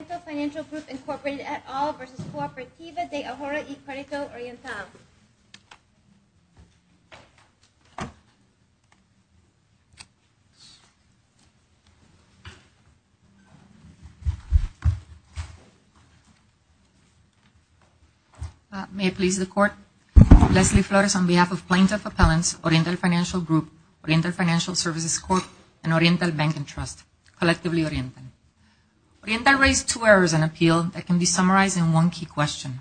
Oriental Financial Group Incorporated et al. v. Cooperativa de Ahorro y Credito Oriental. May it please the Court. Leslie Flores on behalf of Plaintiff Appellants, Oriental Financial Group, Oriental Financial Services Court, and Oriental Bank and Trust. Collectively Oriental. Oriental raised two errors in appeal that can be summarized in one key question.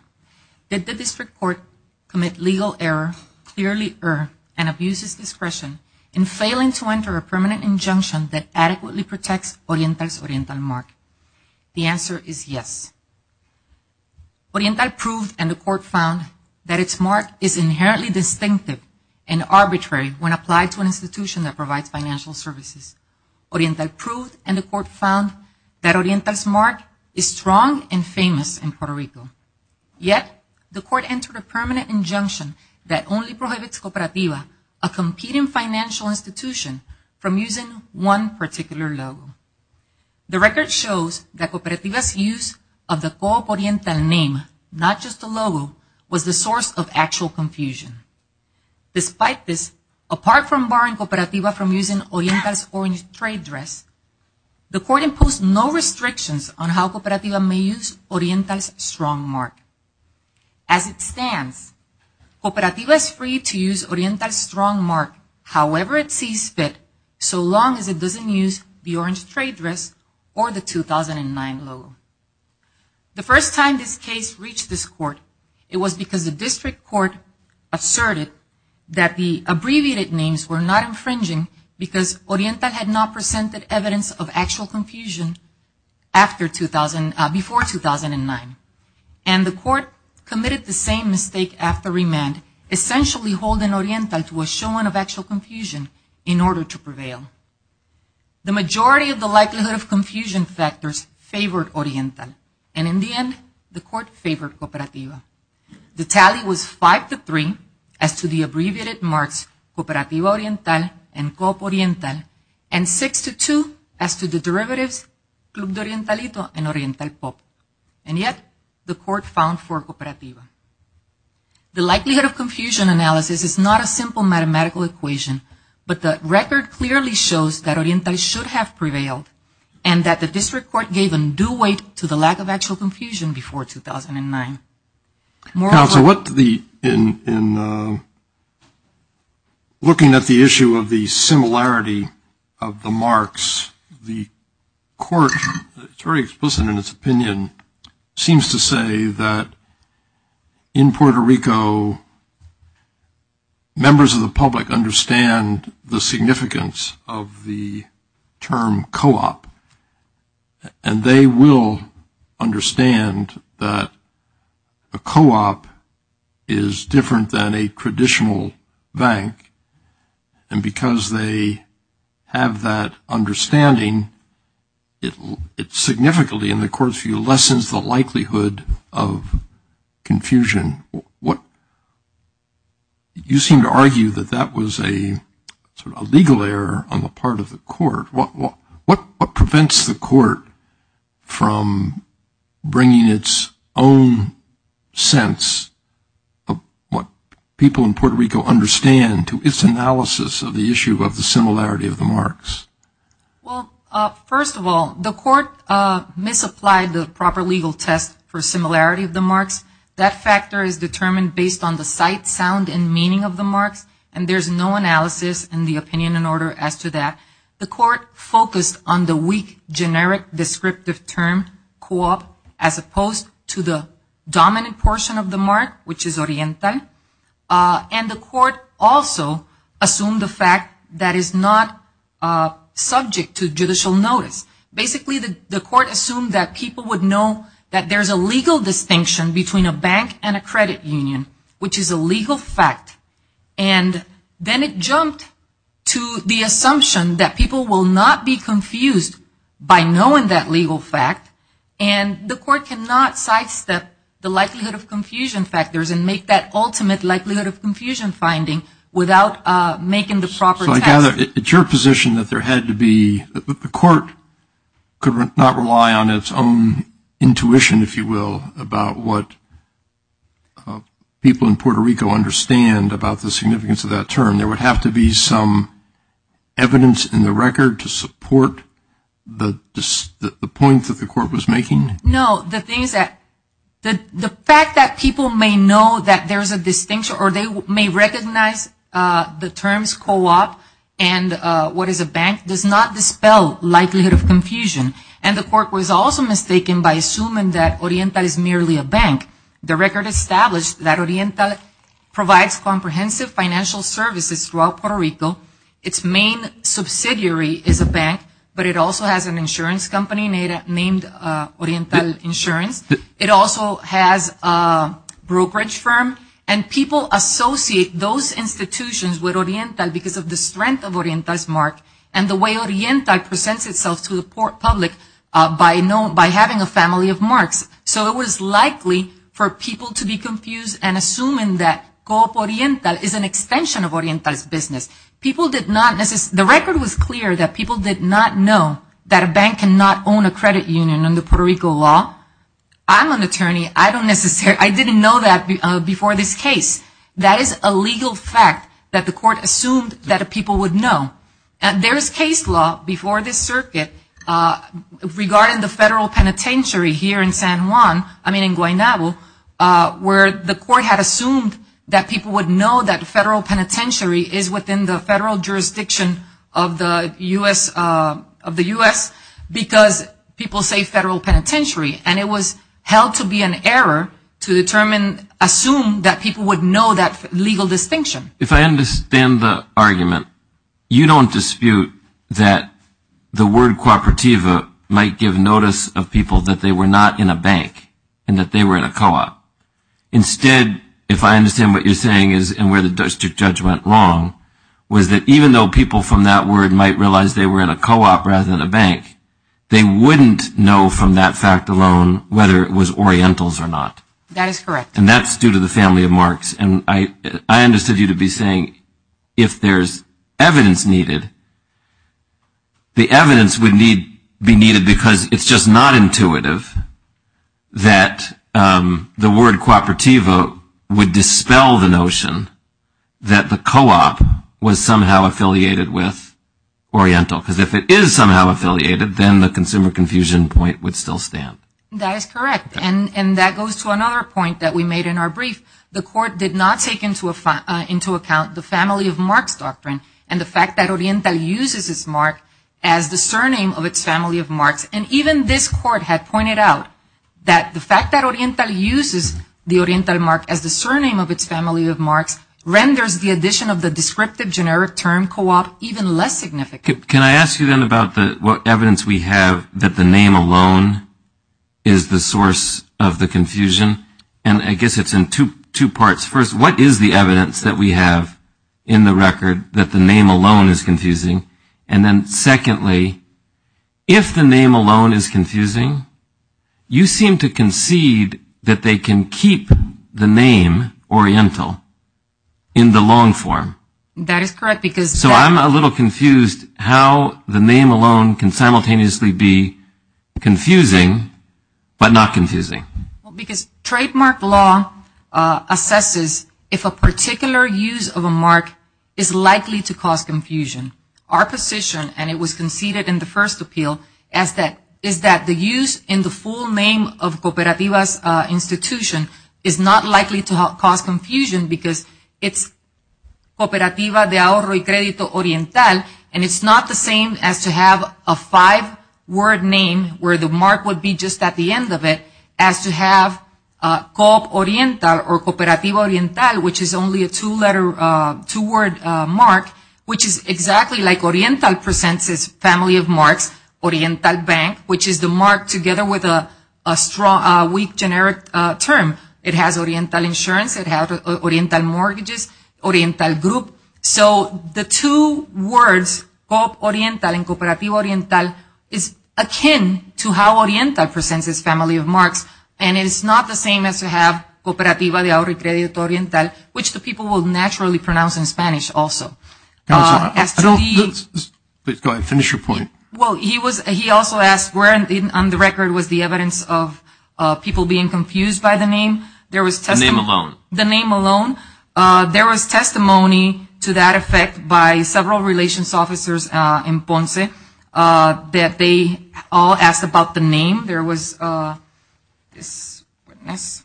Did the district court commit legal error, clearly err, and abuse its discretion in failing to enter a permanent injunction that adequately protects Oriental's Oriental mark? The answer is yes. Oriental proved and the court found that its mark is inherently distinctive and arbitrary when applied to an institution that provides financial services. Oriental proved and the court found that Oriental's mark is strong and famous in Puerto Rico. Yet the court entered a permanent injunction that only prohibits Cooperativa, a competing financial institution, from using one particular logo. The record shows that Cooperativa's use of the co-op Oriental name, not just the logo, was the source of actual confusion. Despite this, apart from barring Cooperativa from using Oriental's Orange Trade Dress, the court imposed no restrictions on how Cooperativa may use Oriental's strong mark. As it stands, Cooperativa is free to use Oriental's strong mark however it sees fit so long as it doesn't use the Orange Trade Dress or the 2009 logo. The first time this case reached this court, it was because the district court asserted that the abbreviated names were not infringing because Oriental had not presented evidence of actual confusion before 2009. And the court committed the same mistake after remand, essentially holding Oriental to a showing of actual confusion in order to prevail. The majority of the likelihood of confusion factors favored Oriental, and in the end, the court favored Cooperativa. The tally was 5-3 as to the abbreviated marks Cooperativa Oriental and Co-op Oriental, and 6-2 as to the derivatives Club de Orientalito and Oriental Co-op. And yet, the court found for Cooperativa. The likelihood of confusion analysis is not a simple mathematical equation, but the record clearly shows that Oriental should have prevailed and that the district court gave a new weight to the lack of actual confusion before 2009. Counsel, in looking at the issue of the similarity of the marks, the court, it's very explicit in its opinion, seems to say that in Puerto Rico, members of the public understand the significance of the term Co-op, and they will understand that a Co-op is different than a traditional bank, and because they have that understanding, it significantly, in the court's view, lessens the likelihood of confusion. You seem to argue that that was a legal error on the part of the court. What prevents the court from bringing its own sense of what people in Puerto Rico understand to its analysis of the issue of the similarity of the marks? Well, first of all, the court misapplied the proper legal test for similarity of the marks. That factor is determined based on the sight, sound, and meaning of the marks, and there's no analysis in the opinion in order as to that. The court focused on the weak, generic, descriptive term Co-op, as opposed to the dominant portion of the mark, which is Oriental, and the court also assumed the fact that it's not subject to judicial notice. Basically, the court assumed that people would know that there's a legal distinction between a bank and a credit union, which is a legal fact, and then it jumped to the assumption that people will not be confused by knowing that legal fact, and the court cannot sidestep the likelihood of confusion factors and make that ultimate likelihood of confusion finding without making the proper test. So I gather it's your position that there had to be the court could not rely on its own intuition, if you will, about what people in Puerto Rico understand about the significance of that term. There would have to be some evidence in the record to support the point that the court was making? No. The fact that people may know that there's a distinction or they may recognize the terms Co-op and what is a bank, does not dispel likelihood of confusion, and the court was also mistaken by assuming that Oriental is merely a bank. The record established that Oriental provides comprehensive financial services throughout Puerto Rico. Its main subsidiary is a bank, but it also has an insurance company named Oriental Insurance. It also has a brokerage firm, and people associate those institutions with Oriental because of the strength of Oriental's mark, and the way Oriental presents itself to the public by having a family of marks. So it was likely for people to be confused and assuming that Co-op Oriental is an extension of Oriental's business. The record was clear that people did not know that a bank cannot own a credit union under Puerto Rico law. I'm an attorney. I didn't know that before this case. That is a legal fact that the court assumed that people would know. There is case law before this circuit regarding the federal penitentiary here in San Juan, I mean in Guaynabo, where the court had assumed that people would know that federal penitentiary is within the federal jurisdiction of the U.S. because people say federal penitentiary, and it was held to be an error to determine, assume that people would know that legal distinction. If I understand the argument, you don't dispute that the word cooperativa might give notice of people that they were not in a bank and that they were in a co-op. Instead, if I understand what you're saying and where the district judge went wrong, was that even though people from that word might realize they were in a co-op rather than a bank, they wouldn't know from that fact alone whether it was Orientals or not. And that's due to the family of marks. And I understood you to be saying if there's evidence needed, the evidence would be needed because it's just not intuitive that the word cooperativa would dispel the notion that the co-op was somehow affiliated with Oriental. Because if it is somehow affiliated, then the consumer confusion point would still stand. That is correct, and that goes to another point that we made in our brief. The court did not take into account the family of marks doctrine and the fact that Oriental uses its mark as the surname of its family of marks. And even this court had pointed out that the fact that Oriental uses the Oriental mark as the surname of its family of marks, renders the addition of the descriptive generic term co-op even less significant. Can I ask you then about what evidence we have that the name alone is the source of the confusion? And I guess it's in two parts. First, what is the evidence that we have in the record that the name alone is confusing? And then secondly, if the name alone is confusing, you seem to concede that they can keep the name Oriental in the long form. That is correct. So I'm a little confused how the name alone can simultaneously be confusing but not confusing. Because trademark law assesses if a particular use of a mark is likely to cause confusion. Our position, and it was conceded in the first appeal, is that the use in the full name of cooperativas institution is not likely to cause confusion, because it's Cooperativa de Ahorro y Credito Oriental, and it's not the same as to have a five-word name where the mark would be just at the end of it, as to have Co-op Oriental or Cooperativa Oriental, which is only a two-word mark, which is exactly like Oriental presents its family of marks, Oriental Bank, which is the mark together with a weak generic term. It has Oriental insurance, it has Oriental mortgages, Oriental group. So the two words, Co-op Oriental and Cooperativa Oriental, is akin to how Oriental presents its family of marks, and it is not the same as to have Cooperativa de Ahorro y Credito Oriental, which the people will naturally pronounce in Spanish also. Go ahead, finish your point. Well, he also asked where on the record was the evidence of people being confused by the name. The name alone? The name alone. There was testimony to that effect by several relations officers in Ponce that they all asked about the name. There was this witness,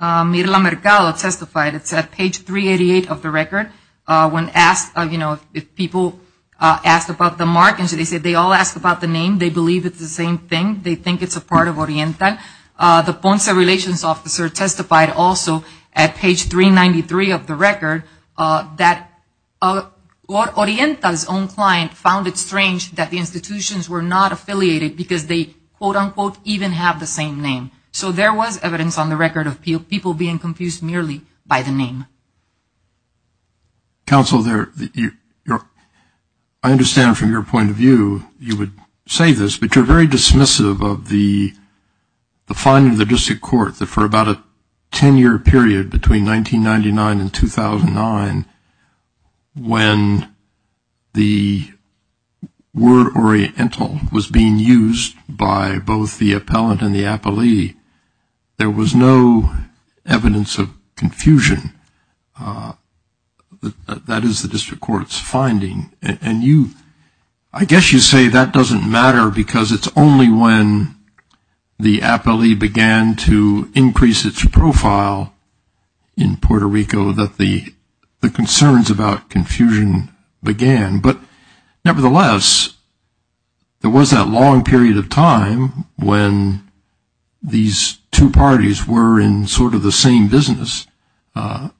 Mirla Mercado testified, it's at page 388 of the record, when asked, you know, if people asked about the markings, they said they all asked about the name. They believe it's the same thing. They think it's a part of Oriental. The Ponce relations officer testified also at page 393 of the record that Oriental's own client found it strange that the institutions were not affiliated because they, quote, unquote, even have the same name. So there was evidence on the record of people being confused merely by the name. Counsel, I understand from your point of view you would say this, but you're very dismissive of the finding of the district court that for about a 10-year period between 1999 and 2009, when the word Oriental was being used by both the appellant and the appellee, there was no evidence of confusion. That is the district court's finding. And you, I guess you say that doesn't matter because it's only when the appellee began to increase its profile in Puerto Rico that the concerns about confusion began. But nevertheless, there was that long period of time when these two parties were in sort of the same business, at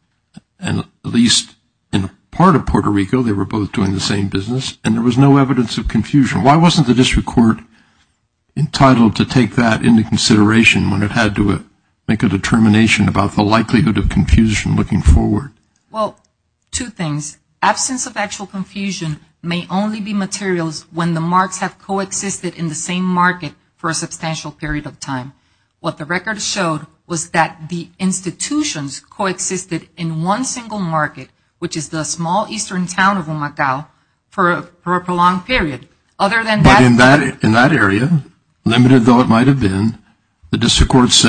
least in part of Puerto Rico they were both doing the same business, and there was no evidence of confusion. Well, two things. Absence of actual confusion may only be materials when the marks have coexisted in the same market for a substantial period of time. What the record showed was that the institutions coexisted in one single market, which is the small eastern town of Humacao, for a prolonged period. But in that area, limited though it might have been, that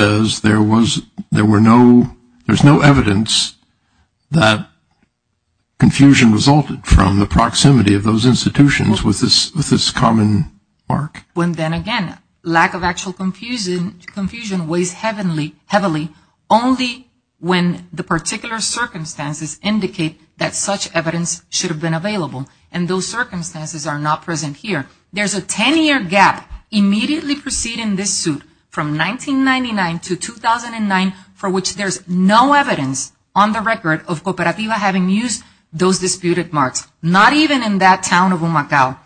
confusion resulted from the proximity of those institutions with this common mark. And then again, lack of actual confusion weighs heavily only when the particular circumstances indicate that such evidence should have been available. And those circumstances are not present here. There's a 10-year gap immediately preceding this suit from 1999 to 2009, for which there's no evidence on the record of Cooperativa having used those disputed marks, not even in that town of Humacao.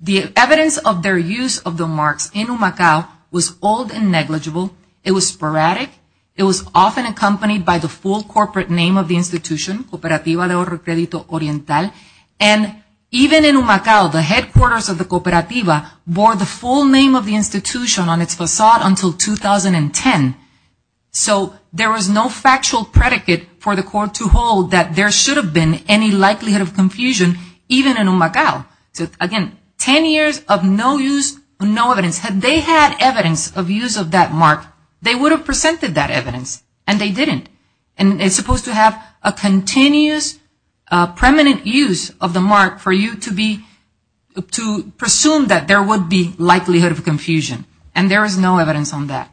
The evidence of their use of the marks in Humacao was old and negligible, it was sporadic, it was often accompanied by the full corporate name of the institution, Cooperativa de Oro Crédito Oriental, and even in Humacao, the headquarters of the Cooperativa bore the full name of the institution on its facade until 2010. So there was no factual predicate for the court to hold that there should have been any likelihood of confusion, even in Humacao. So again, 10 years of no use, no evidence. Had they had evidence of use of that mark, they would have presented that evidence, and they didn't. And it's supposed to have a continuous, permanent use of the mark for you to presume that there would be likelihood of confusion, and there is no evidence on that.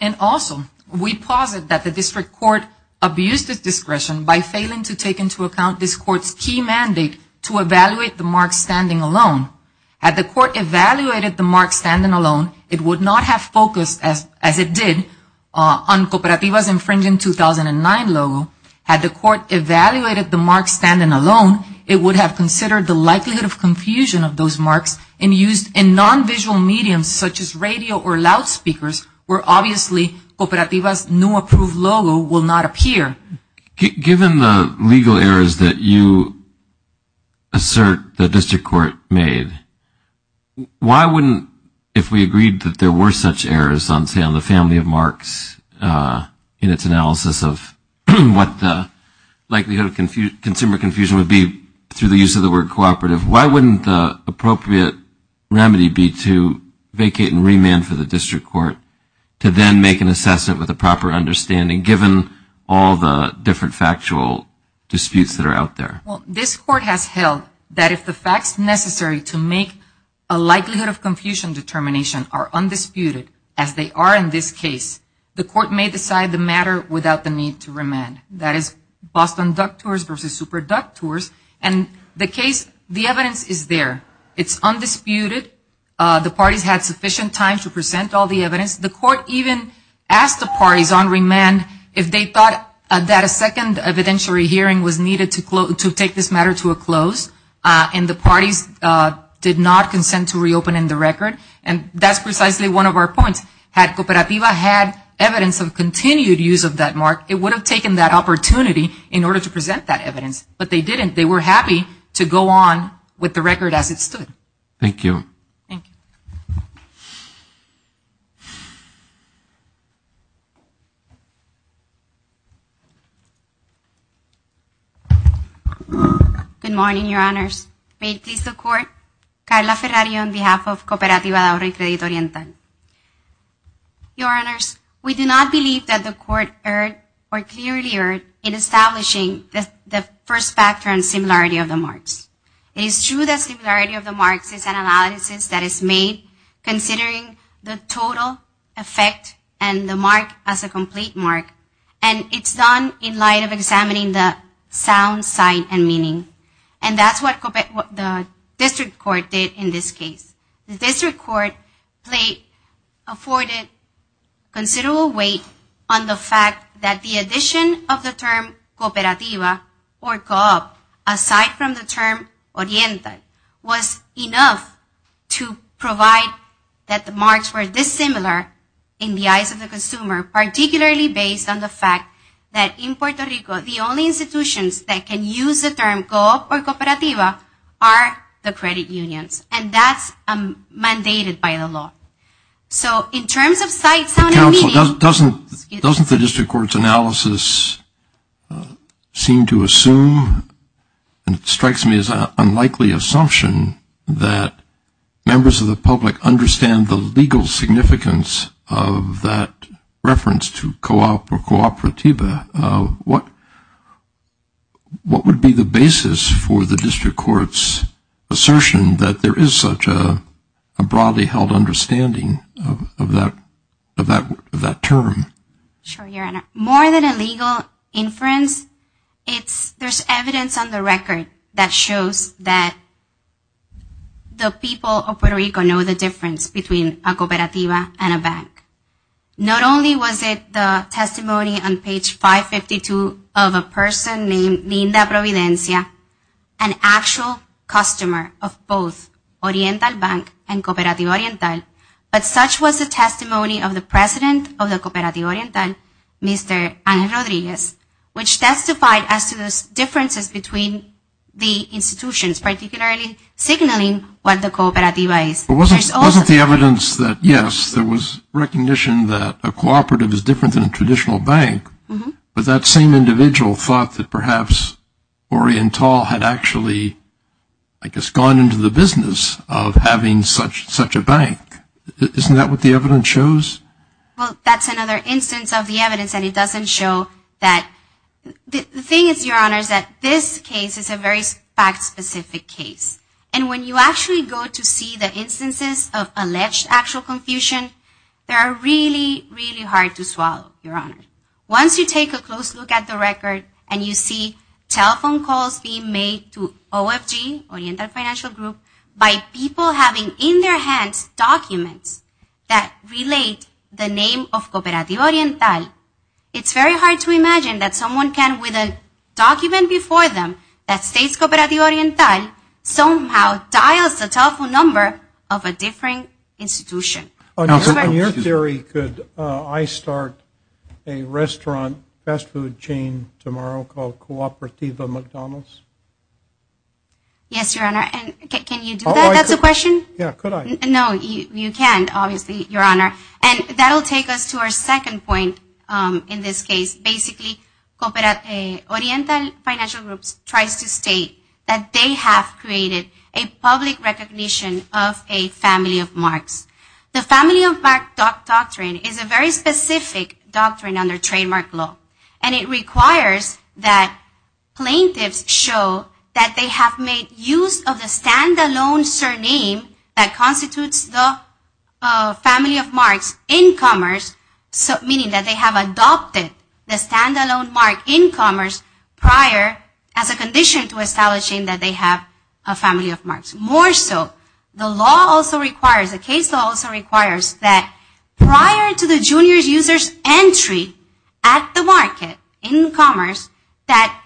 And also, we posit that the district court abused its discretion by failing to take into account this court's key mandate to evaluate the mark standing alone. Had the court evaluated the mark standing alone, it would not have focused, as it did, on Cooperativa's infringing 2009 logo. Had the court evaluated the mark standing alone, it would have considered the likelihood of confusion of those marks and used in non-visual mediums, such as radio or loudspeakers, where obviously Cooperativa's new approved logo will not appear. Given the legal errors that you assert the district court made, why wouldn't, if we agreed that there were such errors on, say, on the family of marks in its analysis of what the likelihood of consumer confusion would be through the use of the word Cooperativa, why wouldn't the appropriate remedy be to vacate and remand for the district court to then make an assessment with a proper understanding, given all the evidence? Given the legal errors that you assert the district court made, why wouldn't the appropriate remedy be to vacate and remand for the district court to then make an assessment with a proper understanding, given all the evidence? Given the legal errors that you assert the district court made, why wouldn't the appropriate remedy be to vacate and remand for the district court to then make an assessment with a proper understanding, given all the evidence? Good morning, Your Honors. May it please the Court, Carla Ferrari on behalf of Cooperativa de Ahorra y Credito Oriental. Your Honors, we do not believe that the Court erred or clearly erred in establishing the first factor in similarity of the marks. It is true that similarity of the marks is an analysis that is made considering the total effect and the mark as a complete mark, and it's done in a way that is not a total effect. In light of examining the sound, sight, and meaning, and that's what the district court did in this case. The district court played, afforded considerable weight on the fact that the addition of the term cooperativa or co-op, aside from the term oriental, was enough to provide that the marks were dissimilar in the eyes of the consumer, particularly based on the fact that in Puerto Rico, the only institutions that can use the term co-op or cooperativa are the credit unions. And that's mandated by the law. So in terms of sight, sound, and meaning... Counsel, doesn't the district court's analysis seem to assume, and it strikes me as an unlikely assumption, that members of the public understand the legal significance of that reference to co-op or cooperativa? What would be the basis for the district court's assertion that there is such a broadly held understanding of that term? Sure, Your Honor. More than a legal inference, there's evidence on the record that shows that the people of Puerto Rico know the difference between a cooperativa and a co-op. Not only was it the testimony on page 552 of a person named Linda Providencia, an actual customer of both Oriental Bank and Cooperativa Oriental, but such was the testimony of the president of the Cooperativa Oriental, Mr. Ana Rodriguez, which testified as to those differences between the institutions, particularly signaling what the cooperativa is. But wasn't the evidence that, yes, there was recognition that a cooperative is different than a traditional bank, but that same individual thought that perhaps Oriental had actually, I guess, gone into the business of having such a bank? Isn't that what the evidence shows? Well, that's another instance of the evidence, and it doesn't show that... The thing is, Your Honor, is that this case is a very fact-specific case. And when you actually go to see the instances of alleged actual confusion, they are really, really hard to swallow, Your Honor. Once you take a close look at the record and you see telephone calls being made to OFG, Oriental Financial Group, by people having in their hands documents that relate the name of Cooperativa Oriental, it's very hard to imagine that someone can, without any evidence, and the document before them that states Cooperativa Oriental somehow dials the telephone number of a different institution. On your theory, could I start a restaurant fast food chain tomorrow called Cooperativa McDonald's? Yes, Your Honor, and can you do that? That's the question? Yeah, could I? No, you can't, obviously, Your Honor, and that will take us to our second point in this case. Basically, Cooperativa Oriental Financial Group tries to state that they have created a public recognition of a family of marks. The family of marks doctrine is a very specific doctrine under trademark law, and it requires that plaintiffs show that they have made use of the stand-alone surname that constitutes the family of marks in commerce, meaning that they have adopted the stand-alone mark in commerce prior as a condition to establishing that they have a family of marks. More so, the law also requires, the case law also requires that prior to the junior user's entry at the market in commerce, that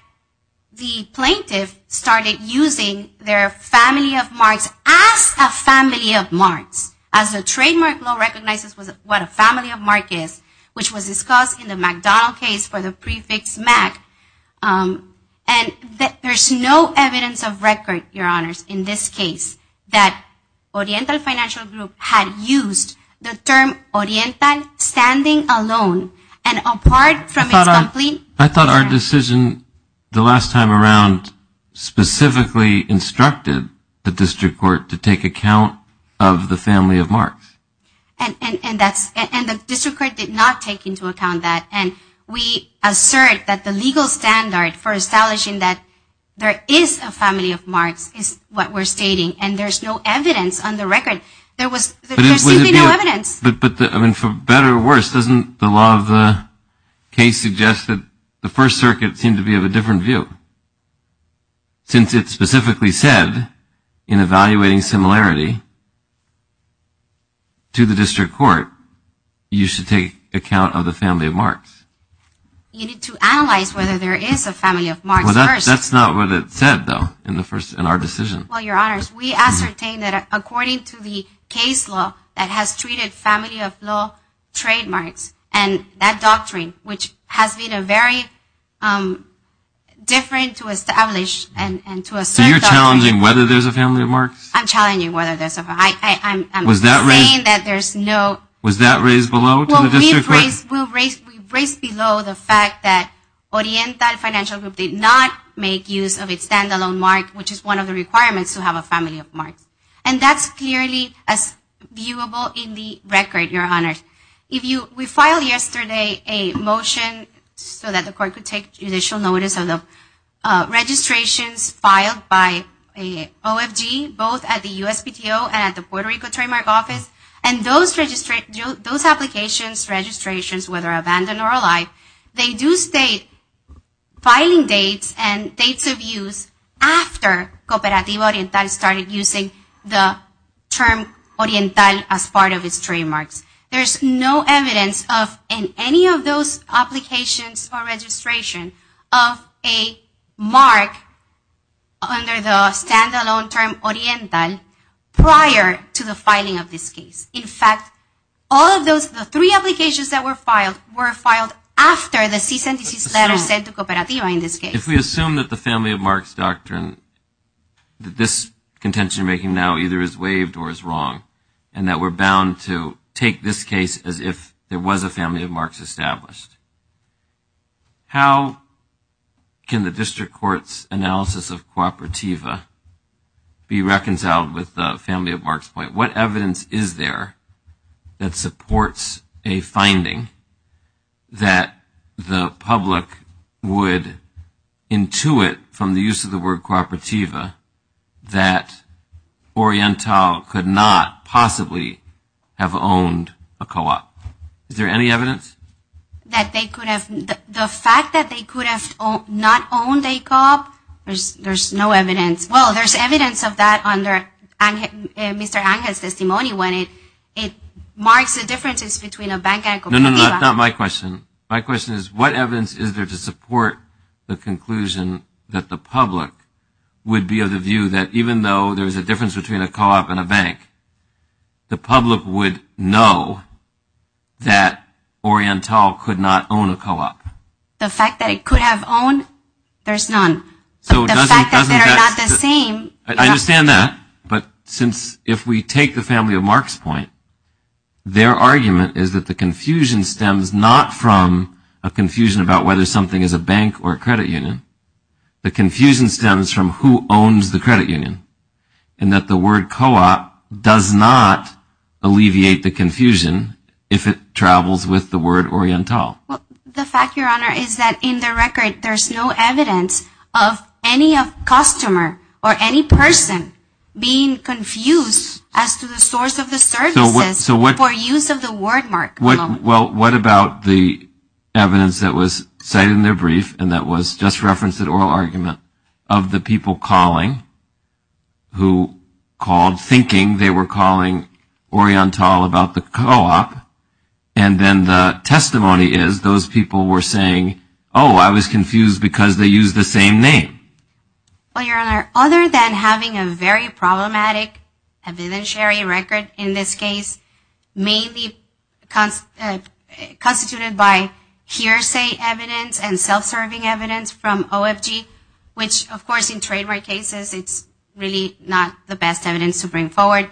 the plaintiff started using their family of marks as a family of marks, as the trademark law recognizes what a family of mark is, which was discussed in the McDonald case for the prefix mac. And there's no evidence of record, Your Honors, in this case, that Oriental Financial Group had used the term oriental standing alone, and apart from its complete I thought our decision the last time around specifically instructed that there was no evidence of record in this case. And that's, and the district court did not take into account that. And we assert that the legal standard for establishing that there is a family of marks is what we're stating, and there's no evidence on the record. There was, there seems to be no evidence. But, I mean, for better or worse, doesn't the law of the case suggest that the First Circuit seemed to be of a different view? Since it specifically said, in evaluating similarity to the district court, you should take account of the family of marks. You need to analyze whether there is a family of marks first. Well, that's not what it said, though, in our decision. Well, Your Honors, we ascertain that according to the case law that has treated family of law trademarks, and that doctrine, which has been a very different to establish and to assert that. So you're challenging whether there's a family of marks? I'm challenging whether there's a family of marks. Was that raised below to the district court? Well, we raised below the fact that Oriental Financial Group did not make use of its standalone mark, which is one of the requirements to have a family of marks. And that's clearly as viewable in the record, Your Honors. We filed yesterday a motion so that the court could take judicial notice of the registrations filed by OFG, both at the USPTO and at the Puerto Rico Trademark Office. And those applications, registrations, whether abandoned or alive, they do state filing dates and dates of use after Cooperativa Oriental started using the term Oriental as part of its trademarks. There's no evidence of any of those applications or registration of a mark under the standalone term Oriental prior to the filing of this case. In fact, all of those three applications that were filed were filed after the cease and desist letter sent to Cooperativa in this case. If we assume that the family of marks doctrine, that this contention making now either is waived or is wrong, and that we're bound to take this case as if there was a family of marks established, how can the district court's analysis of Cooperativa be reconciled with the family of marks point? What evidence is there that supports a finding that the public would, intuit from the use of the word Cooperativa that Oriental could not possibly have owned a co-op? Is there any evidence? That they could have, the fact that they could have not owned a co-op, there's no evidence. Well, there's evidence of that under Mr. Angan's testimony when it marks the differences between a bank and Cooperativa. No, no, not my question. My question is what evidence is there to support the conclusion that the public would be of the view that even though there's a difference between a co-op and a bank, the public would know that Oriental could not own a co-op? The fact that it could have owned, there's none. The fact that they're not the same. I understand that, but since, if we take the family of marks point, their argument is that the confusion stems not from a confusion about whether something is a bank or a credit union. The confusion stems from who owns the credit union and that the word co-op does not alleviate the confusion if it travels with the word Oriental. The fact, Your Honor, is that in the record there's no evidence of any customer or any public person being confused as to the source of the services for use of the word mark. Well, what about the evidence that was cited in their brief and that was just referenced at oral argument of the people calling, who called thinking they were calling Oriental about the co-op and then the testimony is those people were saying, oh, I was confused because they used the same name. Well, Your Honor, other than having a very problematic evidentiary record in this case, mainly constituted by hearsay evidence and self-serving evidence from OFG, which of course in trademark cases it's really not the best evidence to bring forward,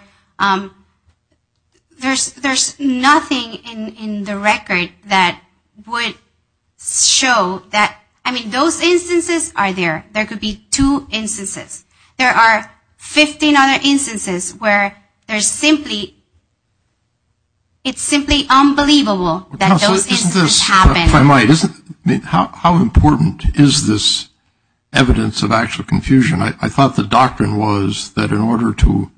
there's nothing in the record that would show that, I mean, those instances are there. There could be two instances. There are 15 other instances where there's simply, it's simply unbelievable that those instances happen. How important is this evidence of actual confusion? I thought the doctrine was that in order to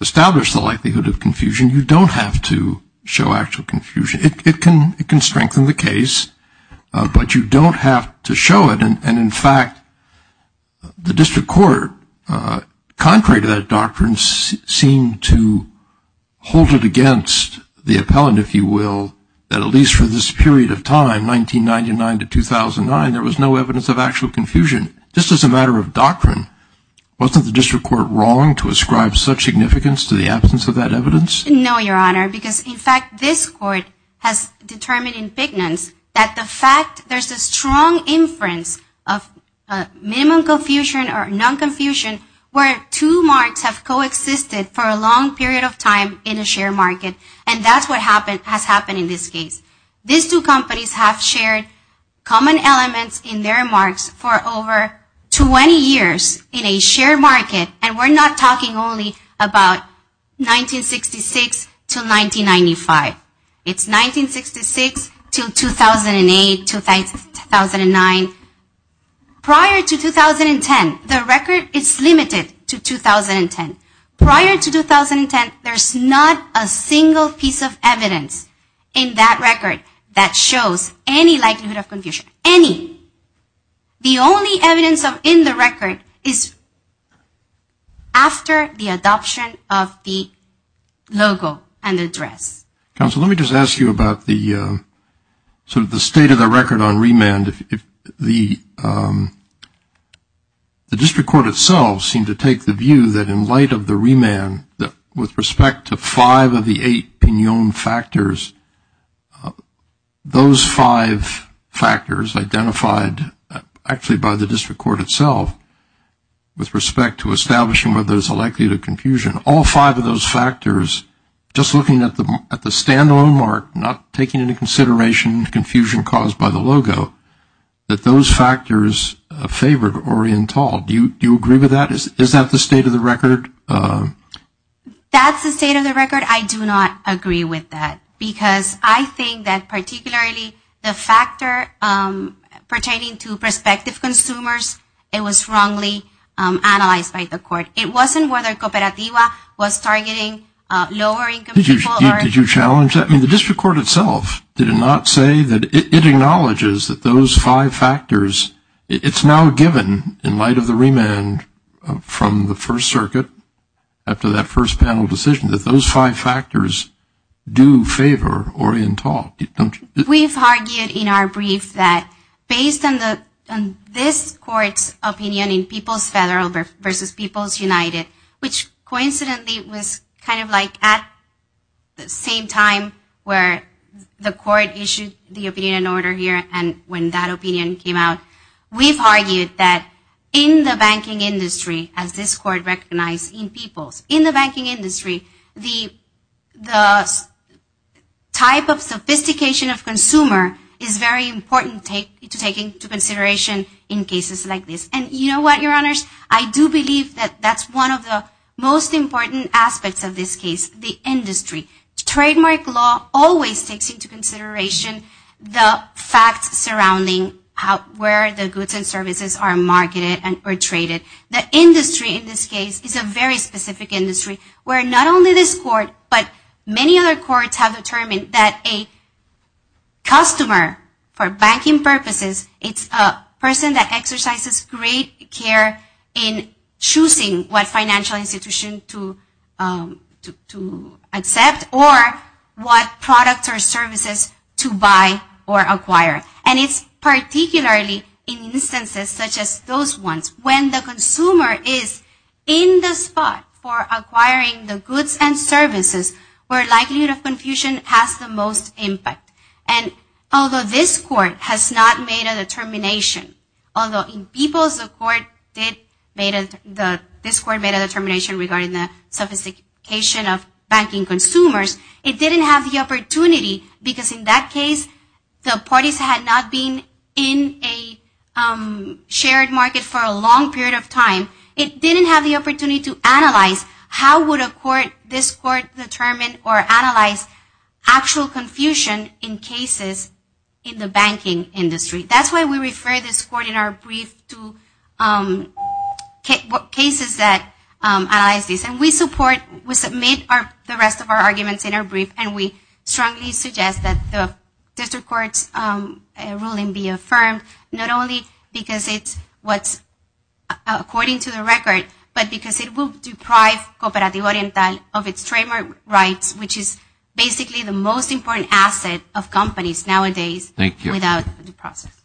establish the likelihood of confusion, you don't have to show actual confusion. It can strengthen the case, but you don't have to show it. And in fact, the district court, contrary to that doctrine, seemed to hold it against the appellant, if you will, that at least for this period of time, 1999 to 2009, there was no evidence of actual confusion, just as a matter of doctrine. Wasn't the district court wrong to ascribe such significance to the absence of that evidence? No, Your Honor, because in fact this court has determined in bigness that the fact there's a strong inference of minimum confusion or non-confusion where two marks have coexisted for a long period of time in a share market, and that's what has happened in this case. These two companies have shared common elements in their marks for over 20 years in a share market, and we're not talking only about 1966 to 1995. It's 1966 to 2008, 2009. Prior to 2010, the record is limited to 2010. Prior to 2010, there's not a single piece of evidence in that record that shows any likelihood of confusion, any. The only evidence in the record is after the adoption of the logo and the address. Counsel, let me just ask you about the sort of the state of the record on remand. The district court itself seemed to take the view that in light of the remand, with respect to five of the eight pignon factors, those five factors identified actually by the district court itself, with respect to establishing whether there's a likelihood of confusion, all five of those factors, just looking at the stand-alone mark, not taking into consideration the confusion caused by the logo, that those factors favored or entailed. Do you agree with that? Is that the state of the record? That's the state of the record. I do not agree with that, because I think that particularly the factor pertaining to prospective consumers, it was wrongly analyzed by the court. It wasn't whether Cooperativa was targeting lower income people. Did you challenge that? I mean, the district court itself did not say that it acknowledges that those five factors, it's now given in light of the remand from the First Circuit after that first panel decision, that those five factors do favor or entail. We've argued in our brief that based on this court's opinion in People's Federal versus People's United, which coincidentally was kind of like at the same time where the court issued the opinion in order here and when that opinion came out, we've argued that in the banking industry, as this court recognized in People's, in the banking industry, the type of sophistication of consumer is very important to take into consideration in cases like this. And you know what, Your Honors? I do believe that that's one of the most important aspects of this case, the industry. Trademark law always takes into consideration the facts surrounding where the goods and services are marketed or traded. The industry in this case is a very specific industry where not only this court, but many other courts have determined that a customer for banking purposes, it's a person that exercises great care in choosing what financial institution to accept or what products or services to buy or acquire. And it's particularly in instances such as those ones when the consumer is in the spot for acquiring the goods and services where likelihood of confusion has the most impact. And although this court has not made a determination, although in People's, this court made a determination regarding the sophistication of banking consumers, it didn't have the opportunity because in that case, the parties had not been in a shared market for a long period of time. It didn't have the opportunity to analyze how would this court determine or analyze actual confusion in cases in the banking industry. That's why we refer this court in our brief to cases that analyze this. And we submit the rest of our arguments in our brief, and we strongly suggest that the district court's ruling be affirmed, not only because it's what's according to the record, but because it will deprive Cooperativo Oriental of its trademark rights, which is basically the most important asset of companies nowadays without the process.